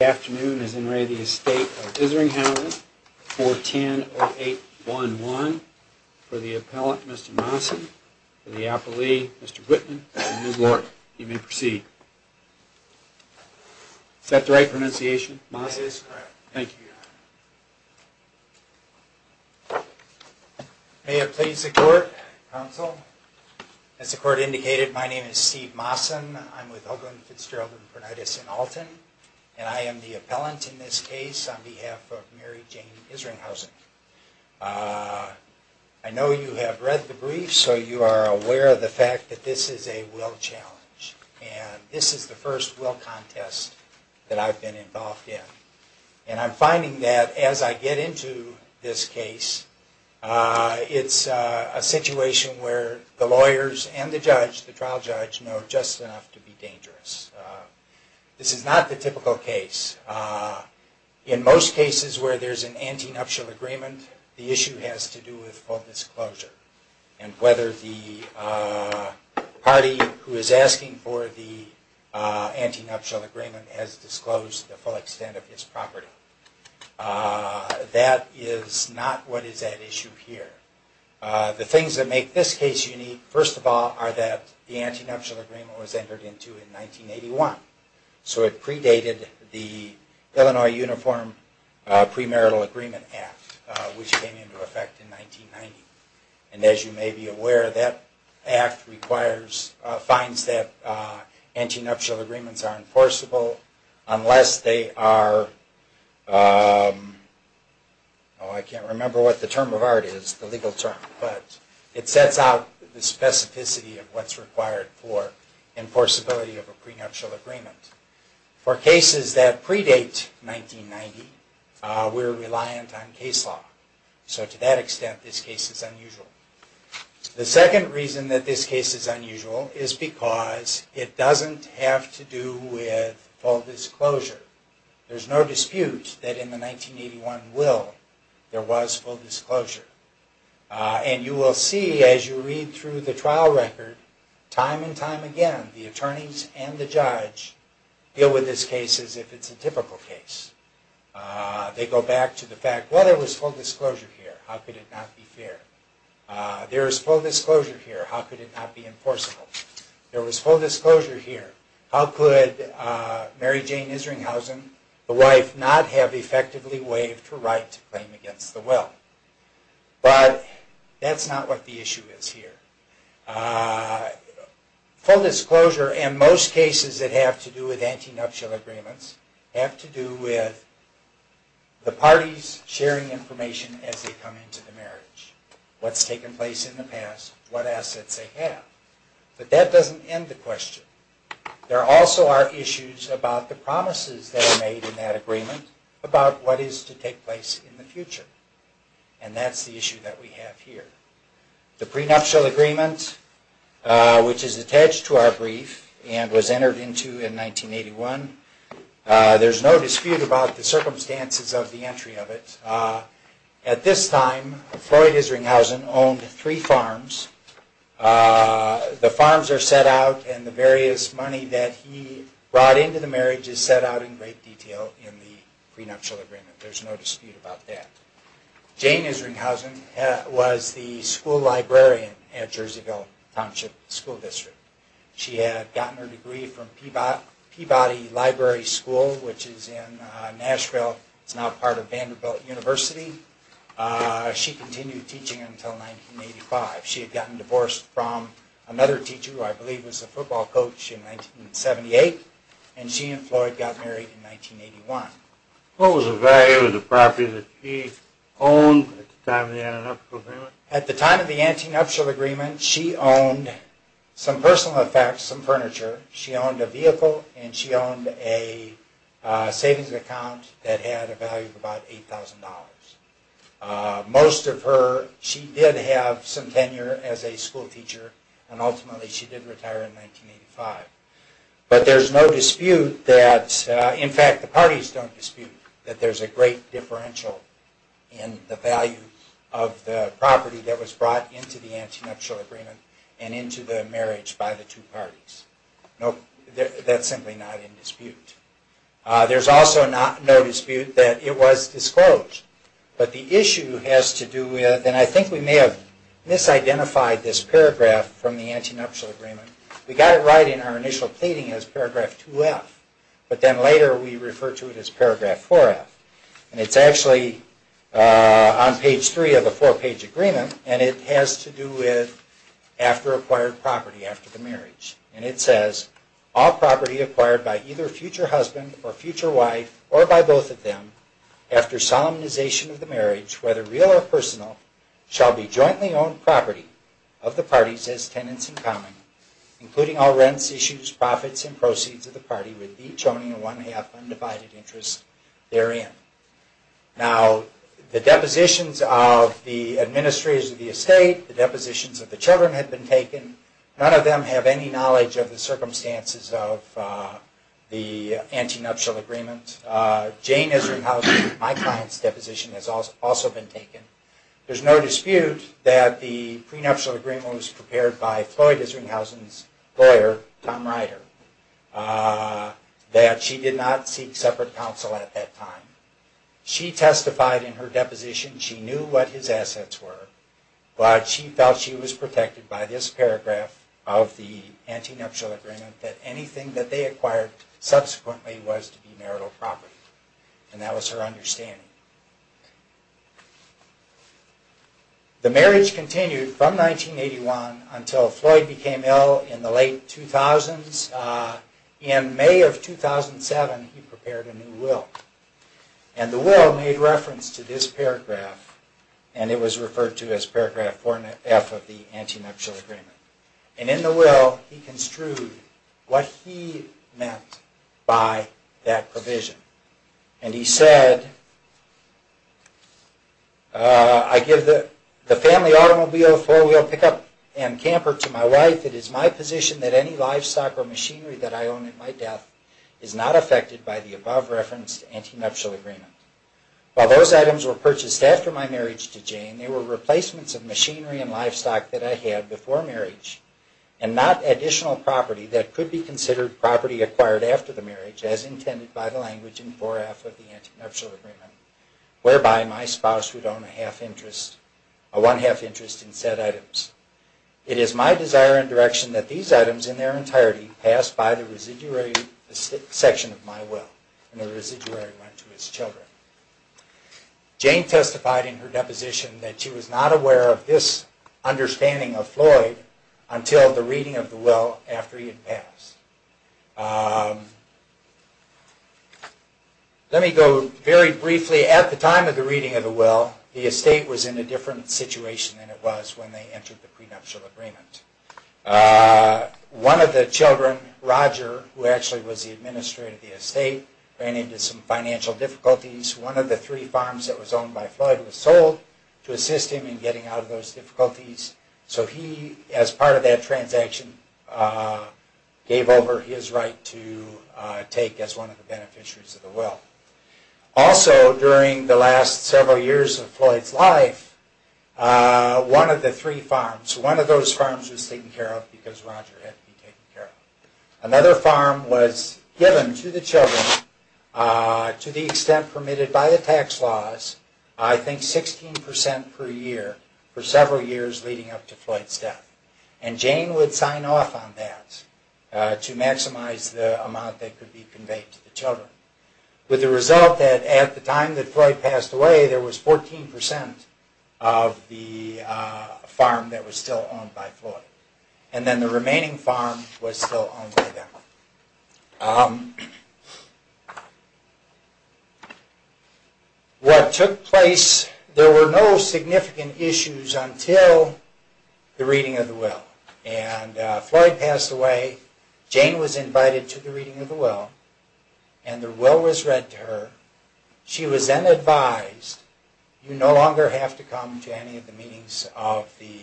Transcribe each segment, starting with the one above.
This afternoon is in re the Estate of Isringhausen, 410-0811, for the appellant Mr. Massen, for the appellee Mr. Whitman, for the new court, you may proceed. Is that the right pronunciation, Massen? That is correct. Thank you. May it please the court, counsel. As the court indicated, my name is Steve Massen, I'm with Hoagland Fitzgerald Infernitis in Alton, and I am the appellant in this case on behalf of Mary Jane Isringhausen. I know you have read the brief, so you are aware of the fact that this is a will challenge, and this is the first will contest that I've been involved in. And I'm finding that as I get into this case, it's a situation where the lawyers and the judge, the trial judge, know just enough to be dangerous. This is not the typical case. In most cases where there's an anti-nuptial agreement, the issue has to do with full disclosure. And whether the party who is asking for the anti-nuptial agreement has disclosed the full extent of its property. That is not what is at issue here. The things that make this case unique, first of all, are that the anti-nuptial agreement was entered into in 1981. So it predated the Illinois Uniform Premarital Agreement Act, which came into effect in 1990. And as you may be aware, that act requires, finds that anti-nuptial agreements are enforceable unless they are, I can't remember what the term of art is, the legal term, but it sets out the specificity of what's required for enforceability of a prenuptial agreement. For cases that predate 1990, we're reliant on case law. So to that extent, this case is unusual. The second reason that this case is unusual is because it doesn't have to do with full disclosure. There's no dispute that in the 1981 will, there was full disclosure. And you will see as you read through the trial record, time and time again, the attorneys and the judge deal with this case as if it's a typical case. They go back to the fact, well, there was full disclosure here, how could it not be fair? There was full disclosure here, how could it not be enforceable? There was full disclosure here, how could Mary Jane Isringhausen, the wife, not have effectively waived her right to claim against the will? But that's not what the issue is here. Full disclosure in most cases that have to do with antinuptial agreements have to do with the parties sharing information as they come into the marriage. What's taken place in the past, what assets they have. But that doesn't end the question. There also are issues about the promises that are made in that agreement about what is to take place in the future. And that's the issue that we have here. The prenuptial agreement, which is attached to our brief and was entered into in 1981. There's no dispute about the circumstances of the entry of it. At this time, Floyd Isringhausen owned three farms. The farms are set out and the various money that he brought into the marriage is set out in great detail in the prenuptial agreement. There's no dispute about that. Jane Isringhausen was the school librarian at Jerseyville Township School District. She had gotten her degree from Peabody Library School, which is in Nashville. It's now part of Vanderbilt University. She continued teaching until 1985. She had gotten divorced from another teacher who I believe was a football coach in 1978. And she and Floyd got married in 1981. What was the value of the property that she owned at the time of the antenuptial agreement? At the time of the antenuptial agreement, she owned some personal effects, some furniture. She owned a vehicle and she owned a savings account that had a value of about $8,000. Most of her, she did have some tenure as a school teacher and ultimately she did retire in 1985. But there's no dispute that, in fact, the parties don't dispute that there's a great differential in the value of the property that was brought into the antenuptial agreement and into the marriage by the two parties. That's simply not in dispute. There's also no dispute that it was disclosed. But the issue has to do with, and I think we may have misidentified this paragraph from the antenuptial agreement. We got it right in our initial pleading as paragraph 2F, but then later we refer to it as paragraph 4F. And it's actually on page three of the four-page agreement and it has to do with after acquired property after the marriage. And it says, all property acquired by either future husband or future wife or by both of them after solemnization of the marriage, whether real or personal, shall be jointly owned property of the parties as tenants in common, including all rents, issues, profits, and proceeds of the party with each owning a one-half undivided interest therein. Now, the depositions of the administrators of the estate, the depositions of the children have been taken. None of them have any knowledge of the circumstances of the antenuptial agreement. Jane is rehousing. My client's deposition has also been taken. There is no dispute that the prenuptial agreement was prepared by Floyd is rehousing's lawyer, Tom Ryder, that she did not seek separate counsel at that time. She testified in her deposition she knew what his assets were, but she felt she was protected by this paragraph of the antenuptial agreement that anything that they acquired subsequently was to be marital property. And that was her understanding. The marriage continued from 1981 until Floyd became ill in the late 2000s. In May of 2007, he prepared a new will. And the will made reference to this paragraph, and it was referred to as paragraph 4-F of the antenuptial agreement. And in the will, he construed what he meant by that provision. And he said, I give the family automobile, four-wheel pickup, and camper to my wife. It is my position that any livestock or machinery that I own at my death is not affected by the above-referenced antenuptial agreement. While those items were purchased after my marriage to Jane, they were replacements of machinery and livestock that I had before marriage, and not additional property that could be considered property acquired after the marriage as intended by the language in 4-F of the antenuptial agreement, whereby my spouse would own a one-half interest in said items. It is my desire and direction that these items in their entirety pass by the residuary section of my will, and the residuary went to his children. Jane testified in her deposition that she was not aware of this understanding of Floyd until the reading of the will after he had passed. Let me go very briefly, at the time of the reading of the will, the estate was in a different situation than it was when they entered the prenuptial agreement. One of the children, Roger, who actually was the administrator of the estate, ran into some financial difficulties. One of the three farms that was owned by Floyd was sold to assist him in getting out of those difficulties, so he, as part of that transaction, gave over his right to take as one of the beneficiaries of the will. Also, during the last several years of Floyd's life, one of the three farms, one of those farms was taken care of because Roger had to be taken care of. Another farm was given to the children, to the extent permitted by the tax laws, I think 16% per year for several years leading up to Floyd's death. And Jane would sign off on that to maximize the amount that could be conveyed to the children. And it would be the result that at the time that Floyd passed away, there was 14% of the farm that was still owned by Floyd. And then the remaining farm was still owned by them. What took place, there were no significant issues until the reading of the will. And Floyd passed away, Jane was invited to the reading of the will, and the will was read to her. She was then advised, you no longer have to come to any of the meetings of the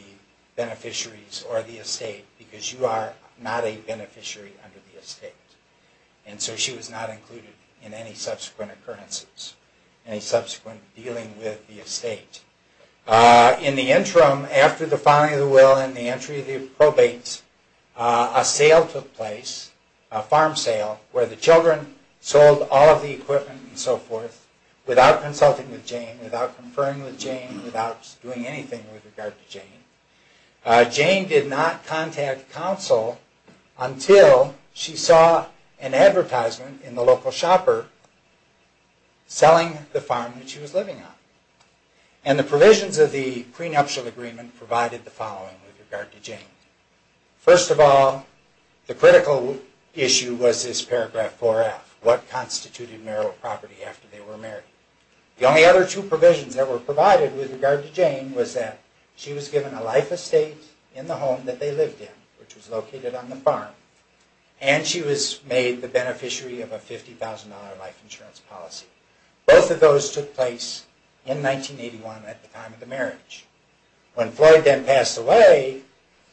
beneficiaries or the estate, because you are not a beneficiary under the estate. And so she was not included in any subsequent occurrences, any subsequent dealing with the estate. In the interim, after the filing of the will and the entry of the probates, a sale took place, a farm sale, where the children sold all of the equipment and so forth, without consulting with Jane, without conferring with Jane, without doing anything with regard to Jane. Jane did not contact counsel until she saw an advertisement in the local shopper selling the farm that she was living on. And the provisions of the prenuptial agreement provided the following with regard to Jane. First of all, the critical issue was this paragraph 4F, what constituted marital property after they were married. The only other two provisions that were provided with regard to Jane was that she was given a life estate in the home that they lived in, which was located on the farm, and she was made the beneficiary of a $50,000 life insurance policy. Both of those took place in 1981 at the time of the marriage. When Floyd then passed away,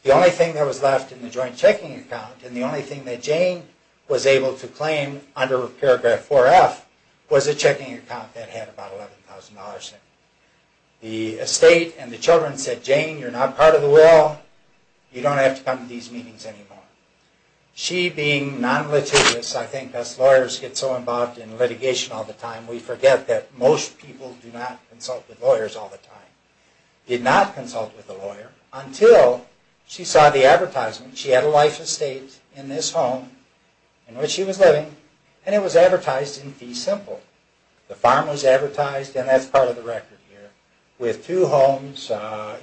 the only thing that was left in the joint checking account, and the only thing that Jane was able to claim under paragraph 4F, was a checking account that had about $11,000 in it. The estate and the children said, Jane, you're not part of the will, you don't have to come to these meetings anymore. She being non-litigious, I think us lawyers get so involved in litigation all the time, we forget that most people do not consult with lawyers all the time. Did not consult with a lawyer until she saw the advertisement, she had a life estate in this home in which she was living, and it was advertised in fee simple. The farm was advertised, and that's part of the record here, with two homes,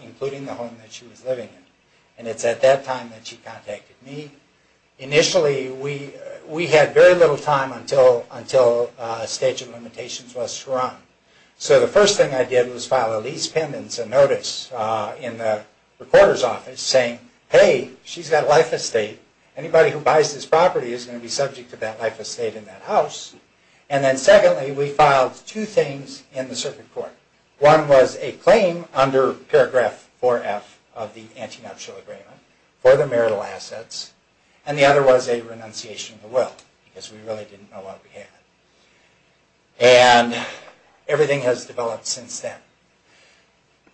including the home that she was living in. And it's at that time that she contacted me. Initially, we had very little time until a stage of limitations was run. So the first thing I did was file a lease pendants and notice in the recorder's office saying, hey, she's got a life estate, anybody who buys this property is going to be subject to that life estate in that house. And then secondly, we filed two things in the circuit court. One was a claim under paragraph 4F of the antenuptial agreement for the marital assets, and the other was a renunciation of the will, because we really didn't know what we had. And everything has developed since then.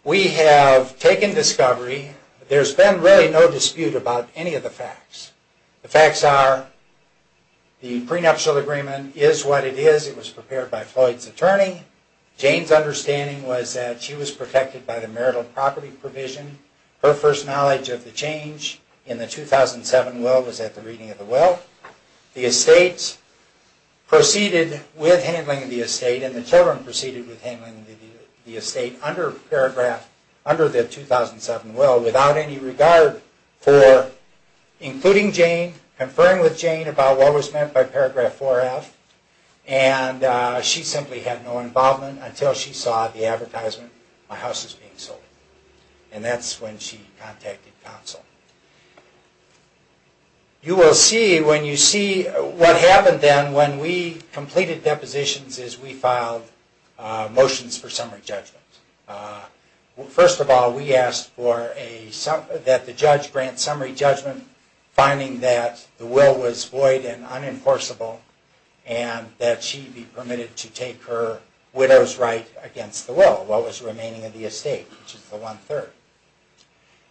We have taken discovery, there's been really no dispute about any of the facts. The facts are the prenuptial agreement is what it is. It was prepared by Floyd's attorney. Jane's understanding was that she was protected by the marital property provision. Her first knowledge of the change in the 2007 will was at the reading of the will. The estate proceeded with handling the estate and the children proceeded with handling the estate under the 2007 will without any regard for including Jane, conferring with Jane about what was meant by paragraph 4F, and she simply had no involvement until she saw the advertisement, my house is being sold. And that's when she contacted counsel. What happened then when we completed depositions is we filed motions for summary judgment. First of all, we asked that the judge grant summary judgment, finding that the will was void and unenforceable, and that she be permitted to take her widow's right against the will, what was remaining of the estate, which is the one-third.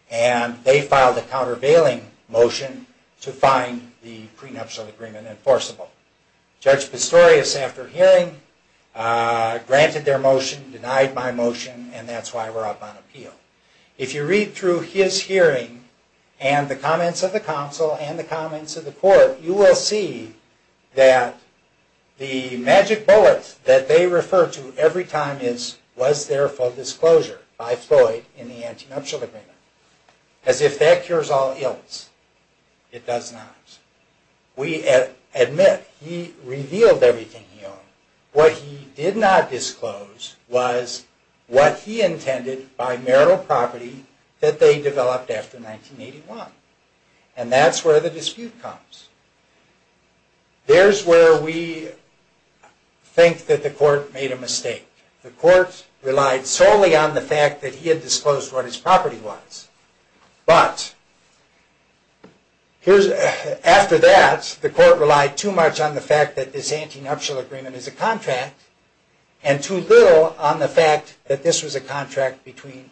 And they filed a countervailing motion to find the prenuptial agreement enforceable. Judge Pistorius, after hearing, granted their motion, denied my motion, and that's why we're up on appeal. If you read through his hearing and the comments of the counsel and the comments of the court, you will see that the magic bullet that they refer to every time is, was there for disclosure by Floyd in the anti-nuptial agreement. As if that cures all ills, it does not. We admit he revealed everything he owned. What he did not disclose was what he intended by marital property that they developed after 1981. And that's where the dispute comes. There's where we think that the court made a mistake. The court relied solely on the fact that he had disclosed what his property was. But after that, the court relied too much on the fact that this anti-nuptial agreement is a contract, and too little on the fact that this was a contract between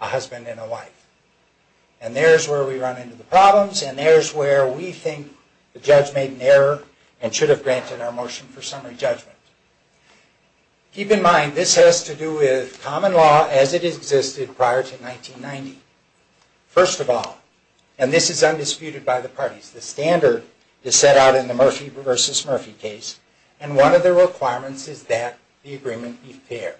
a husband and a wife. And there's where we run into the problems, and there's where we think the judge made an error and should have granted our motion for summary judgment. Keep in mind, this has to do with common law as it existed prior to 1990. First of all, and this is undisputed by the parties, the standard is set out in the Murphy v. Murphy case, and one of the requirements is that the agreement be fair.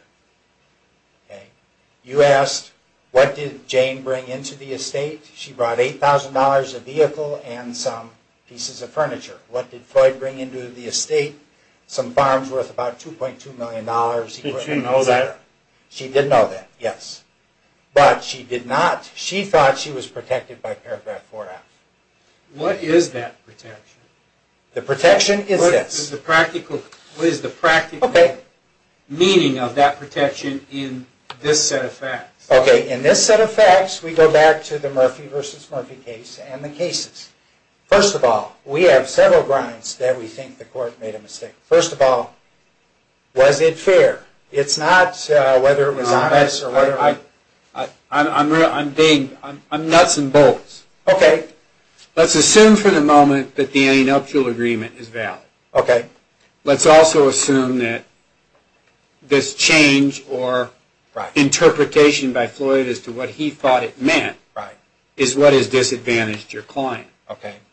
You asked, what did Jane bring into the estate? She brought $8,000, a vehicle, and some pieces of furniture. What did Floyd bring into the estate? Some farms worth about $2.2 million. Did she know that? She did know that, yes. But she thought she was protected by paragraph 4a. What is that protection? What is the practical meaning of that protection in this set of facts? In this set of facts, we go back to the Murphy v. Murphy case and the cases. First of all, we have several grounds that we think the court made a mistake. First of all, was it fair? No, I'm nuts and bolts. Let's assume for the moment that the anti-nuptial agreement is valid. Let's also assume that this change or interpretation by Floyd as to what he thought it meant is what has disadvantaged your client.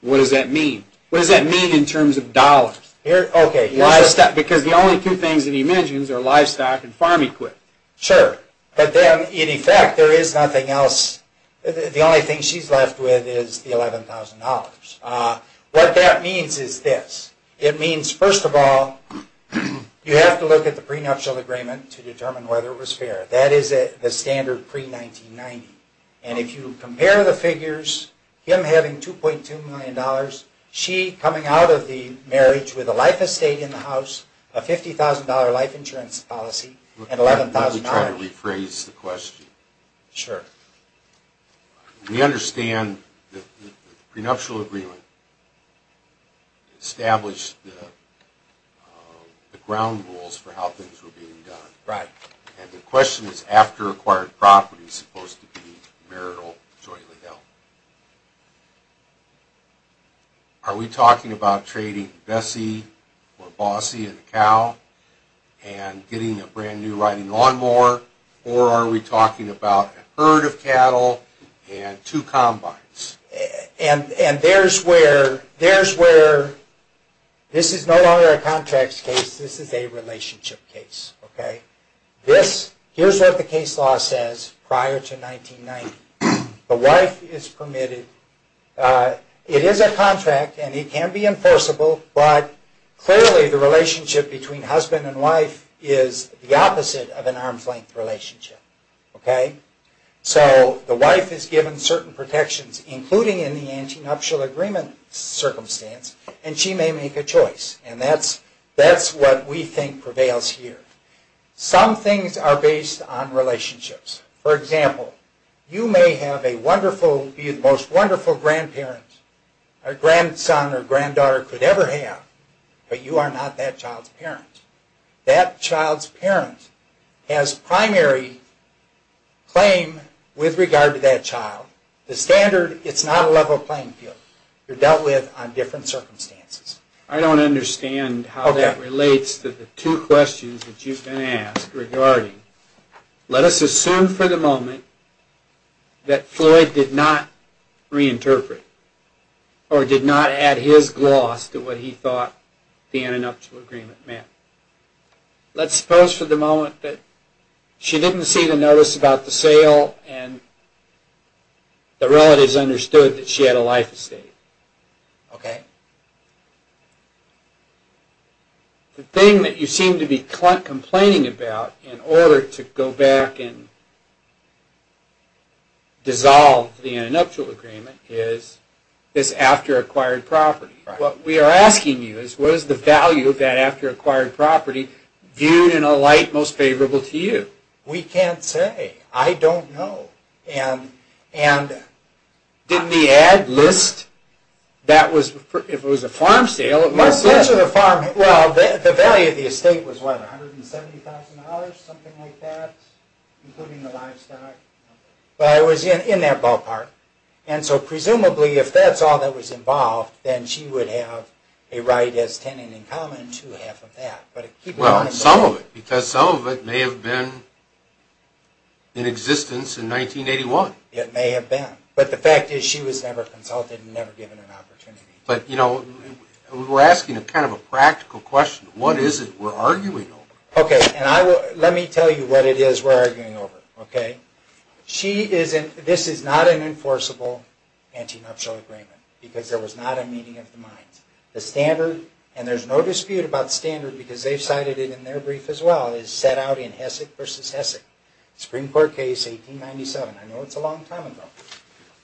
What does that mean in terms of dollars? Because the only two things that he mentions are livestock and farm equipment. Sure, but in effect, the only thing she's left with is the $11,000. What that means is this. It means, first of all, you have to look at the prenuptial agreement to determine whether it was fair. That is the standard pre-1990. And if you compare the figures, him having $2.2 million, she coming out of the marriage with a life estate in the house, a $50,000 life insurance policy, and $11,000. Let me try to rephrase the question. We understand that the prenuptial agreement established the ground rules for how things were being done. And the question is after acquired property is supposed to be marital jointly held. Are we talking about trading Bessie or Bossie and the cow and getting a brand new riding lawnmower? Or are we talking about a herd of cattle and two combines? And there's where this is no longer a contracts case. This is a relationship case. Here's what the case law says prior to 1990. The wife is permitted, it is a contract and it can be enforceable, but clearly the relationship between husband and wife is the opposite of an arm's length relationship. So the wife is given certain protections, including in the antenuptial agreement circumstance, and she may make a choice. And that's what we think prevails here. Some things are based on relationships. For example, you may be the most wonderful grandparent a grandson or granddaughter could ever have, but you are not that child's parent. That child's parent has primary claim with regard to that child. The standard is not a level playing field. You're dealt with on different circumstances. I don't understand how that relates to the two questions that you've been asked regarding... Let us assume for the moment that Floyd did not reinterpret or did not add his gloss to what he thought the antenuptial agreement meant. Let's suppose for the moment that she didn't see the notice about the sale and the relatives understood that she had a life estate. The thing that you seem to be complaining about in order to go back and dissolve the antenuptial agreement is this after-acquired property. What we are asking you is what is the value of that after-acquired property viewed in a light most favorable to you? We can't say. I don't know. Did the ad list, if it was a farm sale... The value of the estate was $170,000, something like that, including the livestock. It was in their ballpark. Presumably, if that's all that was involved, then she would have a right as tenant in common to half of that. Some of it, because some of it may have been in existence in 1981. It may have been, but the fact is she was never consulted and never given an opportunity. We're asking a practical question. What is it we're arguing over? Let me tell you what it is we're arguing over. This is not an enforceable antenuptial agreement, because there was not a meeting of the minds. The standard, and there's no dispute about the standard because they've cited it in their brief as well, is set out in Hessek v. Hessek. Supreme Court case 1897. I know it's a long time ago.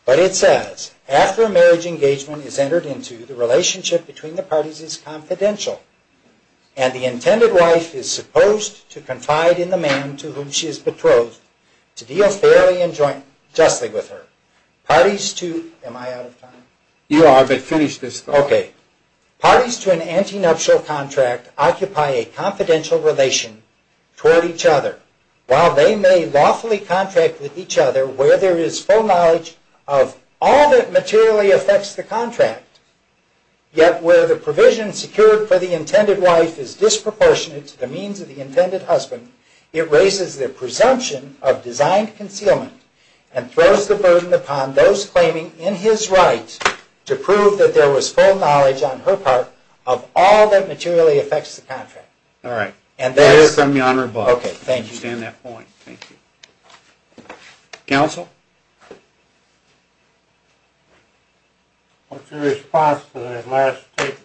But it says, after a marriage engagement is entered into, the relationship between the parties is confidential, and the intended wife is supposed to confide in the man to whom she is betrothed to deal fairly and justly with her. Am I out of time? Parties to an antenuptial contract occupy a confidential relation toward each other, while they may lawfully contract with each other where there is full knowledge of all that materially affects the contract, yet where the provision secured for the intended wife is disproportionate to the means of the intended husband, it raises the presumption of designed concealment and throws the burden upon those claiming in his right to prove that there was full knowledge on her part of all that materially affects the contract. All right. I understand that point. Thank you. Counsel? What's your response to that last statement?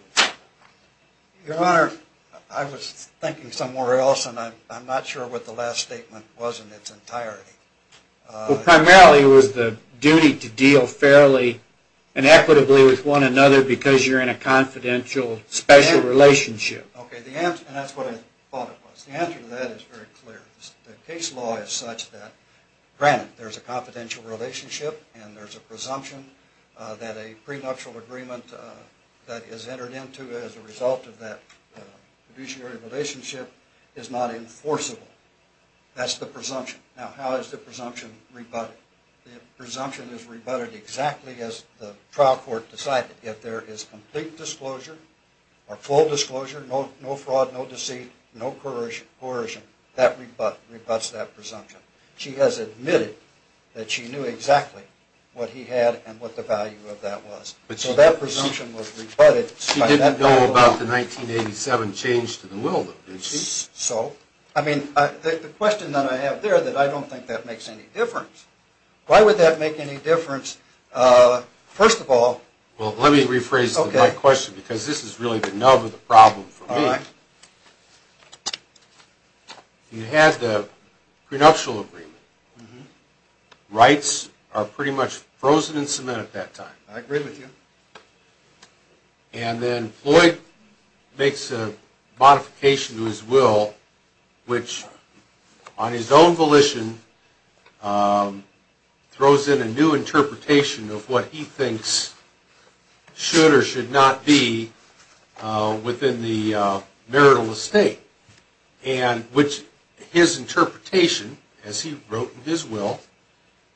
Your Honor, I was thinking somewhere else, and I'm not sure what the last statement was in its entirety. Primarily it was the duty to deal fairly and equitably with one another because you're in a confidential special relationship. Okay. And that's what I thought it was. The answer to that is very clear. The case law is such that, granted, there's a confidential relationship and there's a presumption that a prenuptial agreement that is entered into as a result of that fiduciary relationship is not enforceable. That's the presumption. Now, how is the presumption rebutted? The presumption is rebutted exactly as the trial court decided. Yet there is complete disclosure or full disclosure, no fraud, no deceit, no coercion. That rebutts that presumption. She has admitted that she knew exactly what he had and what the value of that was. So that presumption was rebutted. She didn't know about the 1987 change to the will, though. So? I mean, the question that I have there is that I don't think that makes any difference. Why would that make any difference? First of all... Well, let me rephrase my question, because this is really the nub of the problem for me. You had the prenuptial agreement. Rights are pretty much frozen in cement at that time. I agree with you. And then Floyd makes a modification to his will, which, on his own volition, throws in a new interpretation of what he thinks should or should not be within the marital estate. And his interpretation, as he wrote in his will,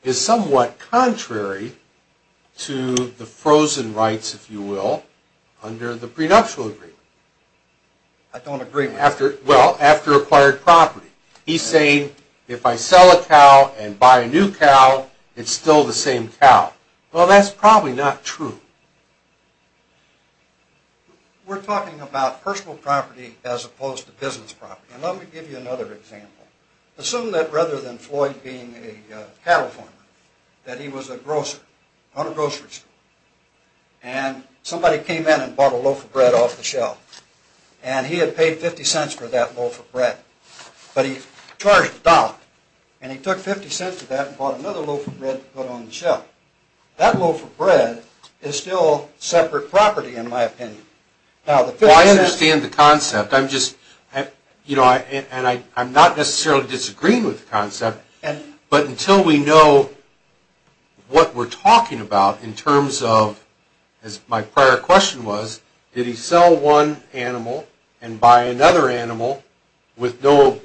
is somewhat contrary to the frozen rights, if you will, under the prenuptial agreement. I don't agree with that. Well, after acquired property. He's saying, if I sell a cow and buy a new cow, it's still the same cow. Well, that's probably not true. We're talking about personal property as opposed to business property. And let me give you another example. Assume that rather than Floyd being a cattle farmer, that he was a grocer on a grocery store. And somebody came in and bought a loaf of bread off the shelf. And he had paid 50 cents for that loaf of bread. But he charged a dollar. And he took 50 cents for that and bought another loaf of bread to put on the shelf. That loaf of bread is still separate property, in my opinion. Well, I understand the concept. And I'm not necessarily disagreeing with the concept. But until we know what we're talking about in terms of, as my prior question was, did he sell one animal and buy another animal with no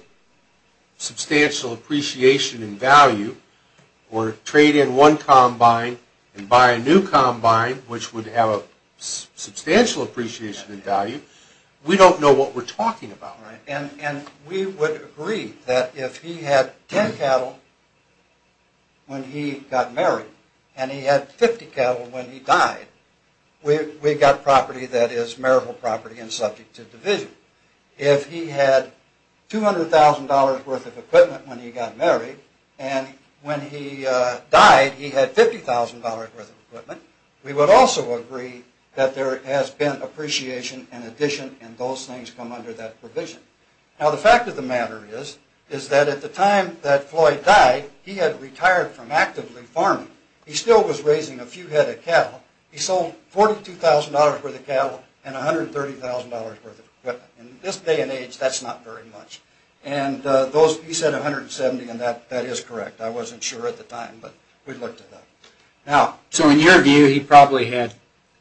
substantial appreciation in value, or trade in one combine and buy a new combine, which would have a substantial appreciation in value, we don't know what we're talking about. And we would agree that if he had 10 cattle when he got married and he had 50 cattle when he died, we've got property that is marital property and subject to division. If he had $200,000 worth of equipment when he got married and when he died he had $50,000 worth of equipment, we would also agree that there has been appreciation in addition and those things come under that provision. Now, the fact of the matter is, is that at the time that Floyd died, he had retired from actively farming. He still was raising a few head of cattle. He sold $42,000 worth of cattle and $130,000 worth of equipment. In this day and age, that's not very much. And he said $170,000 and that is correct. I wasn't sure at the time, but we looked at that. So in your view, he probably had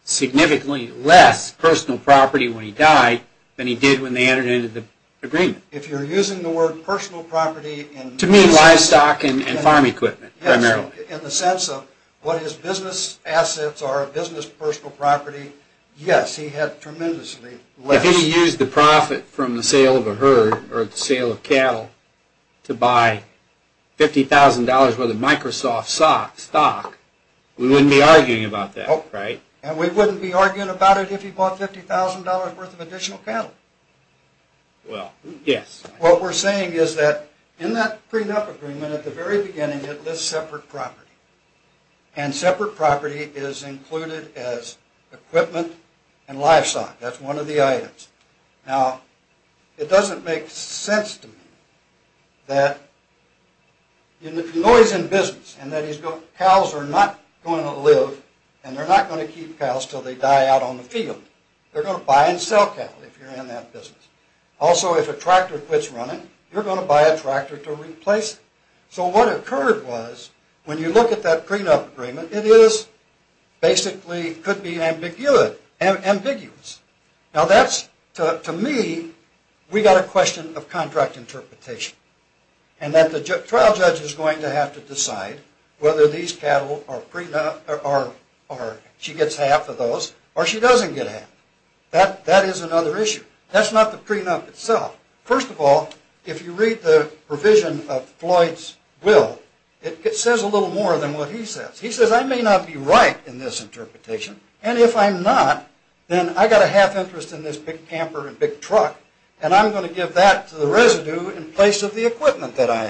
significantly less personal property when he died than he did when they entered into the agreement. If you're using the word personal property... To mean livestock and farm equipment, primarily. Yes, in the sense of what is business assets or business personal property, yes, he had tremendously less. If he used the profit from the sale of a herd or the sale of cattle to buy $50,000 worth of Microsoft stock, we wouldn't be arguing about that, right? And we wouldn't be arguing about it if he bought $50,000 worth of additional cattle. Well, yes. What we're saying is that in that prenup agreement at the very beginning it lists separate property. And separate property is included as equipment and livestock. That's one of the items. Now, it doesn't make sense to me that you know he's in business and that his cows are not going to live and they're not going to keep cows until they die out on the field. They're going to buy and sell cattle if you're in that business. Also, if a tractor quits running, you're going to buy a tractor to replace it. So what occurred was when you look at that prenup agreement, it is basically could be ambiguous. Now, that's, to me, we got a question of contract interpretation and that the trial judge is going to have to decide whether these cattle are prenup or she gets half of those or she doesn't get half. That is another issue. That's not the prenup itself. First of all, if you read the provision of Floyd's will, it says a little more than what he says. He says I may not be right in this interpretation and if I'm not, then I got a half interest in this big camper and big truck and I'm going to give that to the residue in place of the equipment that I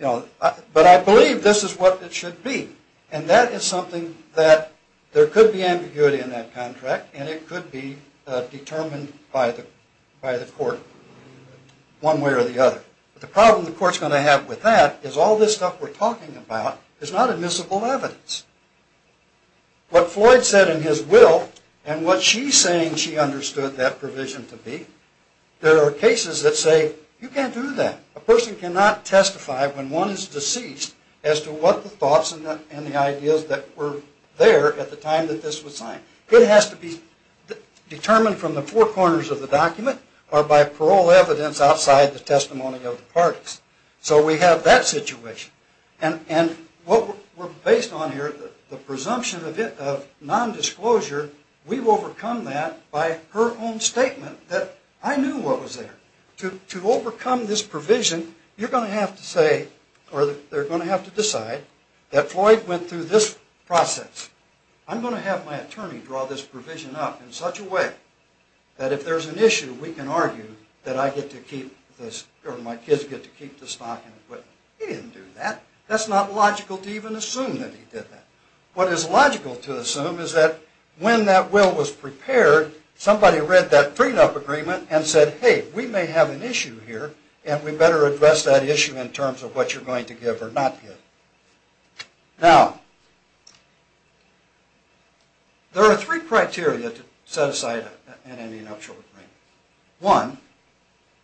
have. But I believe this is what it should be. And that is something that there could be ambiguity in that contract and it could be determined by the court one way or the other. But the problem the court's going to have with that is all this stuff we're talking about is not admissible evidence. What Floyd said in his will and what she's saying she understood that provision to be, there are cases that say you can't do that. A person cannot testify when one is deceased as to what the thoughts and the ideas that were there at the time that this was signed. It has to be determined from the four corners of the document or by parole evidence outside the testimony of the parties. So we have that situation. And what we're based on here, the presumption of nondisclosure, we've overcome that by her own statement that I knew what was there. To overcome this provision, you're going to have to say or they're going to have to decide that Floyd went through this process. I'm going to have my attorney draw this provision up in such a way that if there's an issue we can argue that I get to keep this or my kids get to keep the stock and equipment. He didn't do that. That's not logical to even assume that he did that. What is logical to assume is that when that will was prepared, somebody read that freedom of agreement and said, hey, we may have an issue here and we better address that issue in terms of what you're going to give or not give. Now, there are three criteria to set aside an ending up short agreement. One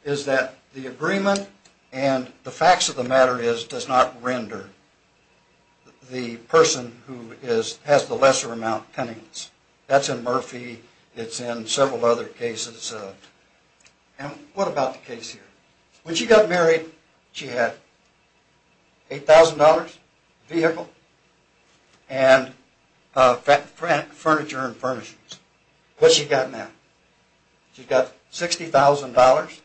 is that the agreement and the facts of the matter is does not render the person who has the lesser amount penniless. That's in Murphy. It's in several other cases. And what about the case here? When she got married, she had $8,000 vehicle and furniture and furnishings. What's she got now? She's got $60,000.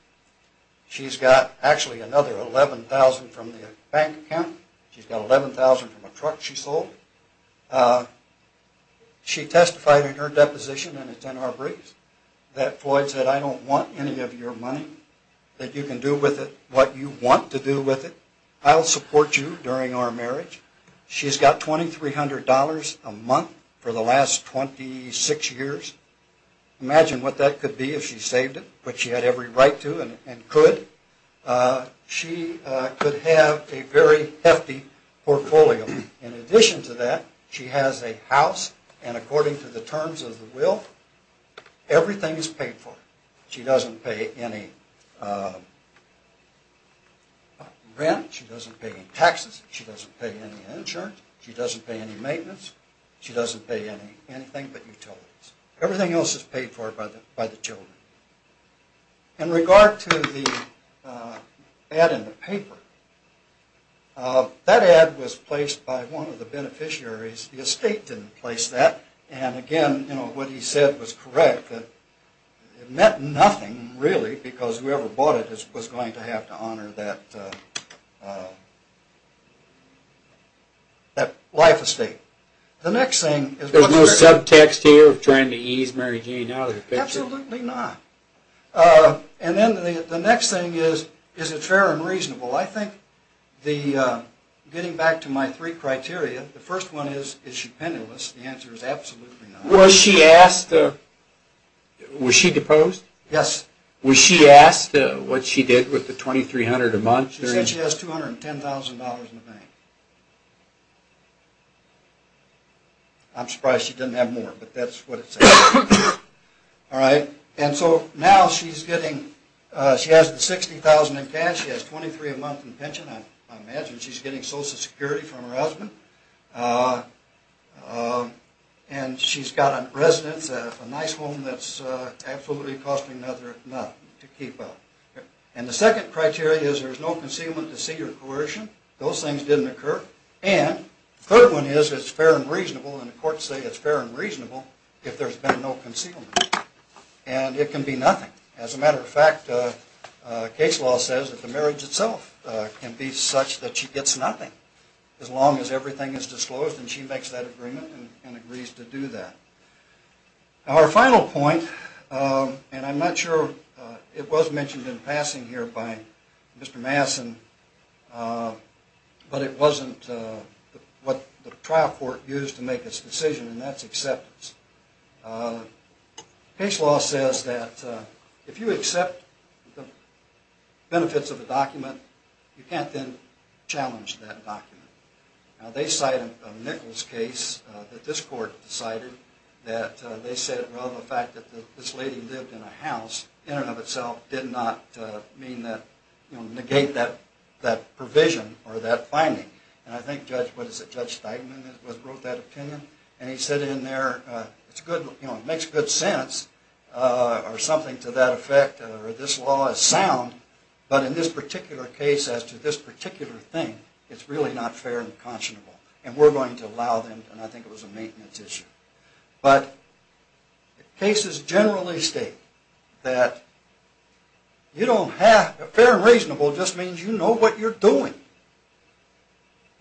She's got actually another $11,000 from the bank account. She's got $11,000 from a truck she sold. She testified in her deposition and it's in our briefs that Floyd said, I don't want any of your money, that you can do with it what you want to do with it. I'll support you during our marriage. She's got $2,300 a month for the last 26 years. Imagine what that could be if she saved it, which she had every right to and could. She could have a very hefty portfolio. In addition to that, she has a house and according to the terms of the will, everything is paid for. She doesn't pay any rent. She doesn't pay any taxes. She doesn't pay any insurance. She doesn't pay any maintenance. She doesn't pay anything but utilities. Everything else is paid for by the children. In regard to the ad in the paper, that ad was placed by one of the beneficiaries. The estate didn't place that. Again, what he said was correct. It meant nothing really because whoever bought it was going to have to honor that life estate. There's no subtext here of trying to ease Mary Jane out of the picture? Absolutely not. The next thing is, is it fair and reasonable? Getting back to my three criteria, the first one is, is she penniless? The answer is absolutely not. Was she deposed? Yes. Was she asked what she did with the $2,300 a month? She said she has $210,000 in the bank. I'm surprised she didn't have more but that's what it said. Now she has the $60,000 in cash. She has $23,000 a month in pension. I imagine she's getting Social Security from her husband. She's got a residence, a nice home that's absolutely costing nothing to keep up. The second criteria is there's no concealment, deceit, or coercion. Those things didn't occur. The third one is, is it fair and reasonable? The courts say it's fair and reasonable if there's been no concealment. It can be nothing. As a matter of fact, case law says that the marriage itself can be such that she gets nothing as long as everything is disclosed and she makes that agreement and agrees to do that. Our final point, and I'm not sure it was mentioned in passing here by Mr. Masson, but it wasn't what the trial court used to make its decision, and that's acceptance. Case law says that if you accept the benefits of a document, you can't then challenge that document. Now they cite a Nichols case that this court decided that they said, well, the fact that this lady lived in a house in and of itself did not negate that provision or that finding. I think Judge Steigman wrote that opinion, and he said in there, it makes good sense or something to that effect, or this law is sound, but in this particular case as to this particular thing, it's really not fair and conscionable, and we're going to allow them, and I think it was a maintenance issue. But cases generally state that fair and reasonable just means you know what you're doing.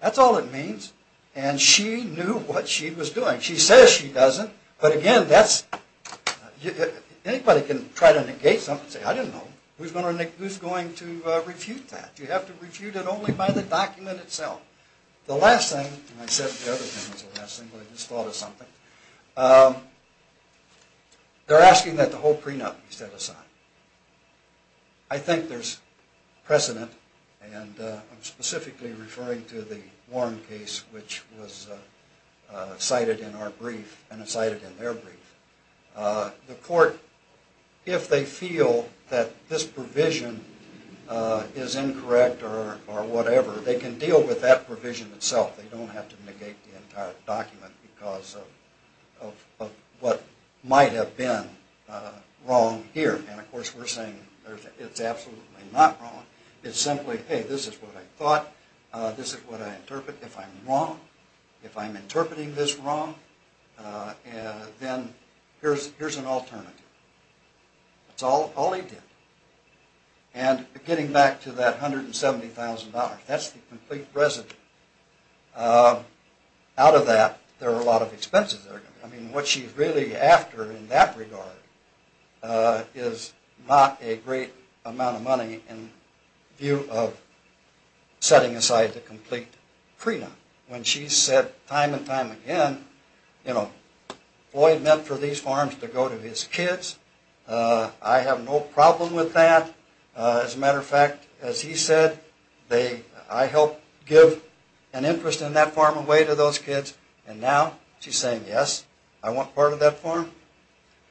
That's all it means, and she knew what she was doing. She says she doesn't, but again, anybody can try to negate something and say, I didn't know, who's going to refute that? You have to refute it only by the document itself. The last thing, and I said the other thing was the last thing, but I just thought of something. They're asking that the whole prenup be set aside. I think there's precedent, and I'm specifically referring to the Warren case, which was cited in our brief and cited in their brief. The court, if they feel that this provision is incorrect or whatever, they can deal with that provision itself. They don't have to negate the entire document because of what might have been wrong here, and of course we're saying it's absolutely not wrong. It's simply, hey, this is what I thought. This is what I interpret. If I'm wrong, if I'm interpreting this wrong, then here's an alternative. That's all he did, and getting back to that $170,000, that's the complete residue. Out of that, there are a lot of expenses. I mean, what she's really after in that regard is not a great amount of money in view of setting aside the complete prenup. When she said time and time again, you know, Floyd meant for these farms to go to his kids. I have no problem with that. As a matter of fact, as he said, I helped give an interest in that farm away to those kids, and now she's saying, yes, I want part of that farm.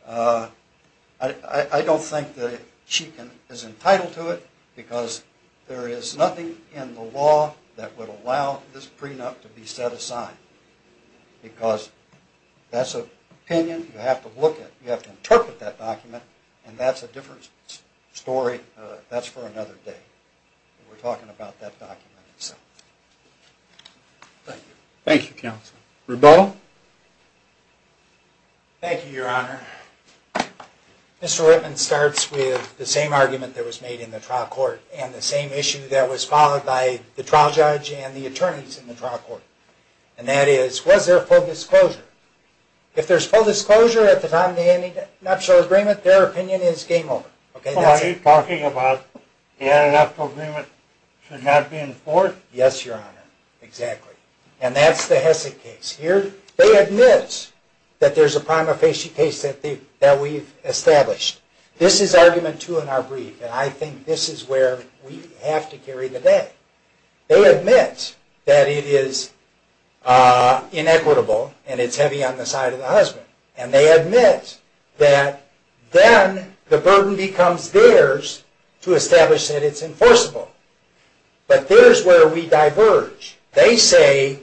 I don't think that she is entitled to it because there is nothing in the law that would allow this prenup to be set aside because that's an opinion you have to look at. And that's a different story. That's for another day. We're talking about that document itself. Thank you. Thank you, counsel. Rebell? Thank you, Your Honor. Mr. Whitman starts with the same argument that was made in the trial court and the same issue that was followed by the trial judge and the attorneys in the trial court. And that is, was there full disclosure? If there's full disclosure at the time of the ending of the nuptial agreement, their opinion is game over. Are you talking about the end of the nuptial agreement should not be enforced? Yes, Your Honor. Exactly. And that's the Hessig case. They admit that there's a prima facie case that we've established. This is argument two in our brief, and I think this is where we have to carry the day. They admit that it is inequitable and it's heavy on the side of the husband. And they admit that then the burden becomes theirs to establish that it's enforceable. But there's where we diverge. They say,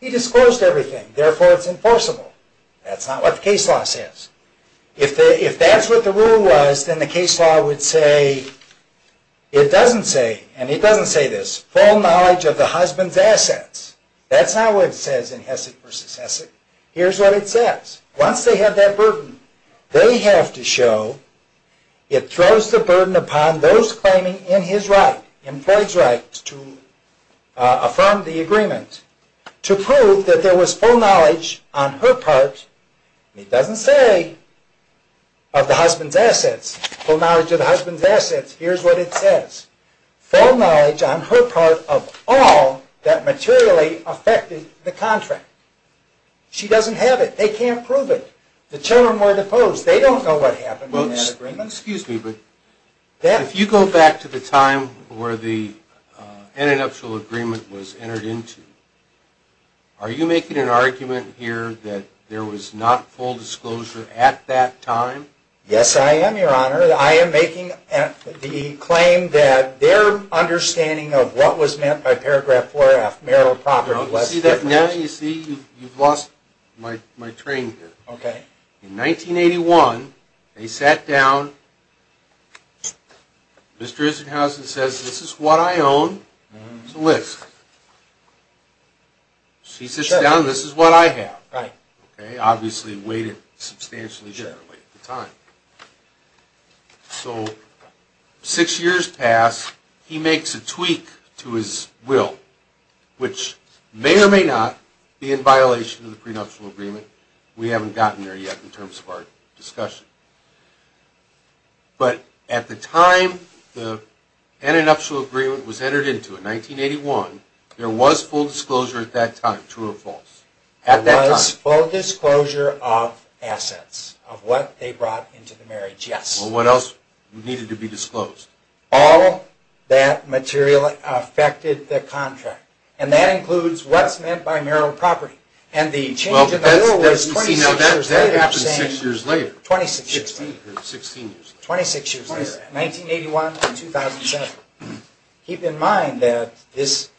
he disclosed everything, therefore it's enforceable. That's not what the case law says. If that's what the rule was, then the case law would say it doesn't say, and it doesn't say this, full knowledge of the husband's assets. That's not what it says in Hessig v. Hessig. Here's what it says. Once they have that burden, they have to show it throws the burden upon those claiming in his right, in Floyd's right to affirm the agreement, to prove that there was full knowledge on her part, and it doesn't say of the husband's assets, full knowledge of the husband's assets. Here's what it says. Full knowledge on her part of all that materially affected the contract. She doesn't have it. They can't prove it. The children were deposed. They don't know what happened in that agreement. Well, excuse me, but if you go back to the time where the intellectual agreement was entered into, are you making an argument here that there was not full disclosure at that time? Yes, I am, Your Honor. I am making the claim that their understanding of what was meant by paragraph 4-F, marital property, was different. You see that now? You see you've lost my train here. Okay. In 1981, they sat down. Mr. Isenhausen says, this is what I own. It's a list. She sits down, this is what I have. Right. Okay, obviously weighted substantially differently at the time. So six years pass, he makes a tweak to his will, which may or may not be in violation of the prenuptial agreement. We haven't gotten there yet in terms of our discussion. But at the time the antinuptial agreement was entered into in 1981, there was full disclosure at that time, true or false? There was full disclosure of assets, of what they brought into the marriage, yes. Well, what else needed to be disclosed? All that material affected the contract. And that includes what's meant by marital property. And the change in the will was 26 years later. That happened six years later. 26 years later. 16 years later. 26 years later, 1981 to 2007. Keep in mind that this,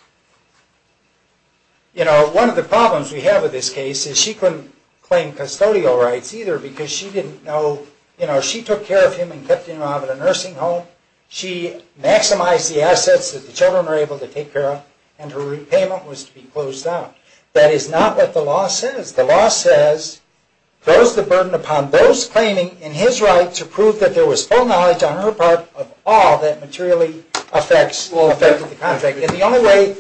you know, one of the problems we have with this case is she couldn't claim custodial rights either because she didn't know, you know, she took care of him and kept him out of the nursing home. She maximized the assets that the children were able to take care of and her repayment was to be closed out. That is not what the law says. The law says, throws the burden upon those claiming in his right to prove that there was full knowledge on her part of all that materially affected the contract. And the only way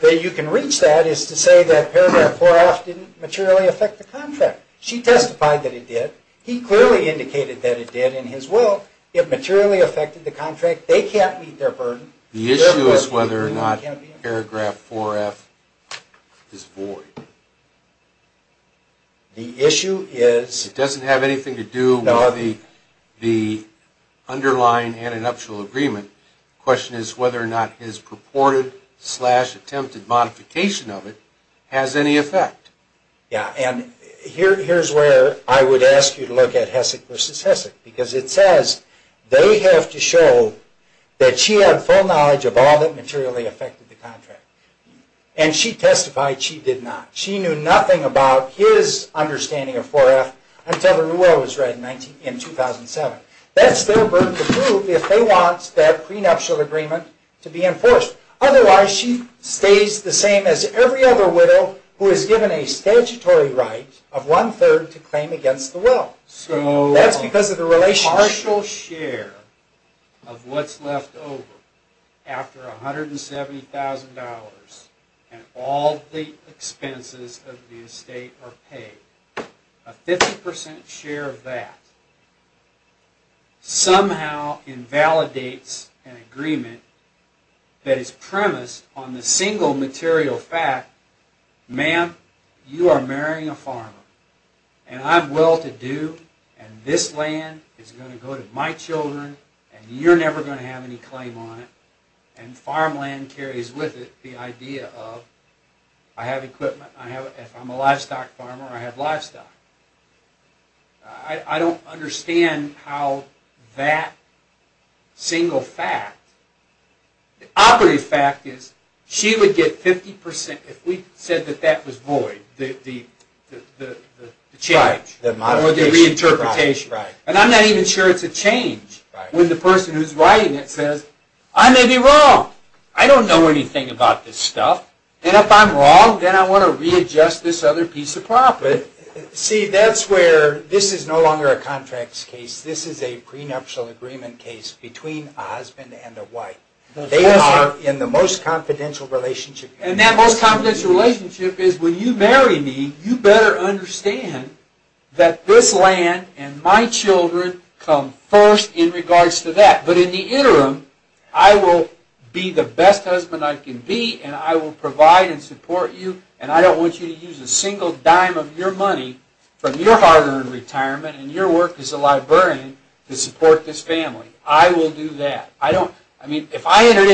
that you can reach that is to say that paragraph 4-F didn't materially affect the contract. She testified that it did. He clearly indicated that it did in his will. It materially affected the contract. They can't meet their burden. The issue is whether or not paragraph 4-F is void. The issue is... It doesn't have anything to do with the underlying and an actual agreement. The question is whether or not his purported slash attempted modification of it has any effect. Yeah, and here's where I would ask you to look at Hessek v. Hessek because it says they have to show that she had full knowledge of all that materially affected the contract. And she testified she did not. She knew nothing about his understanding of 4-F until the rule was read in 2007. That's their burden to prove if they want that prenuptial agreement to be enforced. Otherwise, she stays the same as every other widow who is given a statutory right of one-third to claim against the will. That's because of the relationship. A partial share of what's left over after $170,000 and all the expenses of the estate are paid. A 50% share of that somehow invalidates an agreement that is premised on the single material fact, Ma'am, you are marrying a farmer, and I'm well-to-do, and this land is going to go to my children, and you're never going to have any claim on it, and farmland carries with it the idea of I have equipment, if I'm a livestock farmer, I have livestock. I don't understand how that single fact, the operative fact is she would get 50% if we said that that was void, the change or the reinterpretation. And I'm not even sure it's a change when the person who's writing it says, I may be wrong, I don't know anything about this stuff, and if I'm wrong, then I want to readjust this other piece of property. See, that's where this is no longer a contracts case, this is a prenuptial agreement case between a husband and a wife. They are in the most confidential relationship. And that most confidential relationship is when you marry me, you better understand that this land and my children come first in regards to that. But in the interim, I will be the best husband I can be, and I will provide and support you, and I don't want you to use a single dime of your money from your hard-earned retirement and your work as a librarian to support this family. I will do that. I mean, if I entered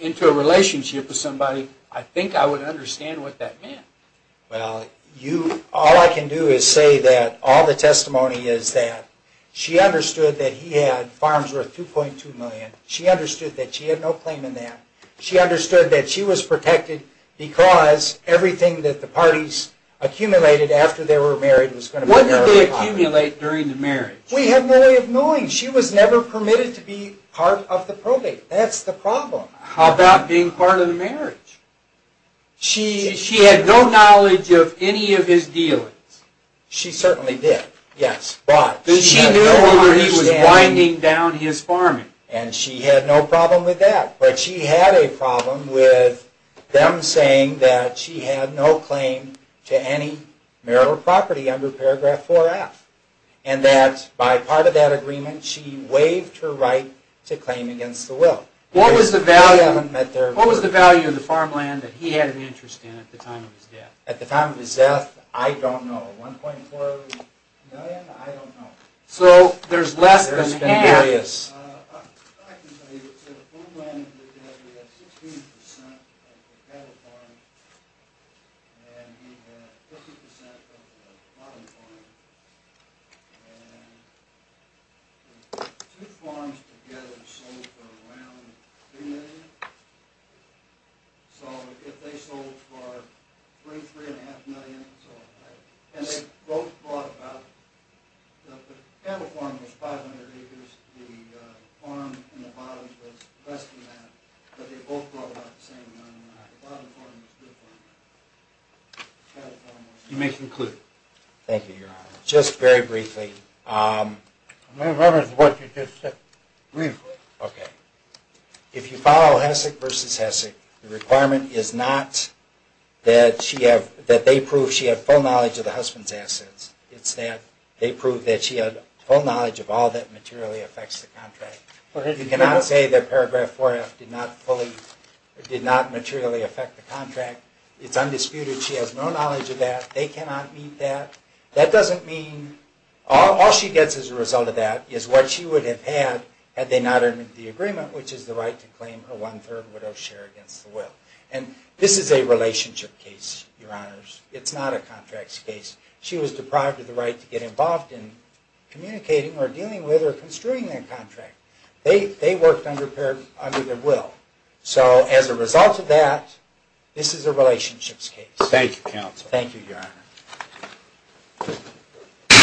into a relationship with somebody, I think I would understand what that meant. Well, all I can do is say that all the testimony is that she understood that he had farms worth $2.2 million, she understood that she had no claim in that, she understood that she was protected because everything that the parties accumulated after they were married was going to be very popular. What did they accumulate during the marriage? We have no way of knowing. She was never permitted to be part of the probate. That's the problem. How about being part of the marriage? She had no knowledge of any of his dealings. She certainly did, yes. But she knew he was winding down his farming. And she had no problem with that. But she had a problem with them saying that she had no claim to any marital property under paragraph 4F. And that by part of that agreement, she waived her right to claim against the will. What was the value of the farmland that he had an interest in at the time of his death? At the time of his death, I don't know. $1.4 million? I don't know. So there's less than half. I can tell you that the farmland that he had, he had 16% of the cattle farm, and he had 50% of the bottom farm. And the two farms together sold for around $3 million. So if they sold for $3, $3.5 million, and they both bought about The cattle farm was 500 acres. The farm in the bottom was less than that. But they both bought about the same amount. The bottom farm was a good farm. You may conclude. Thank you, Your Honor. Just very briefly. May I rephrase what you just said? Briefly. Okay. If you follow Hessek v. Hessek, the requirement is not that they prove she had full knowledge of the husband's assets. It's that they prove that she had full knowledge of all that materially affects the contract. You cannot say that paragraph 4F did not fully, did not materially affect the contract. It's undisputed. She has no knowledge of that. They cannot meet that. That doesn't mean, all she gets as a result of that is what she would have had had they not entered the agreement, which is the right to claim her one-third widow's share against the will. And this is a relationship case, Your Honors. It's not a contracts case. She was deprived of the right to get involved in communicating or dealing with or construing their contract. They worked under their will. So as a result of that, this is a relationships case. Thank you, Counsel. Thank you, Your Honor.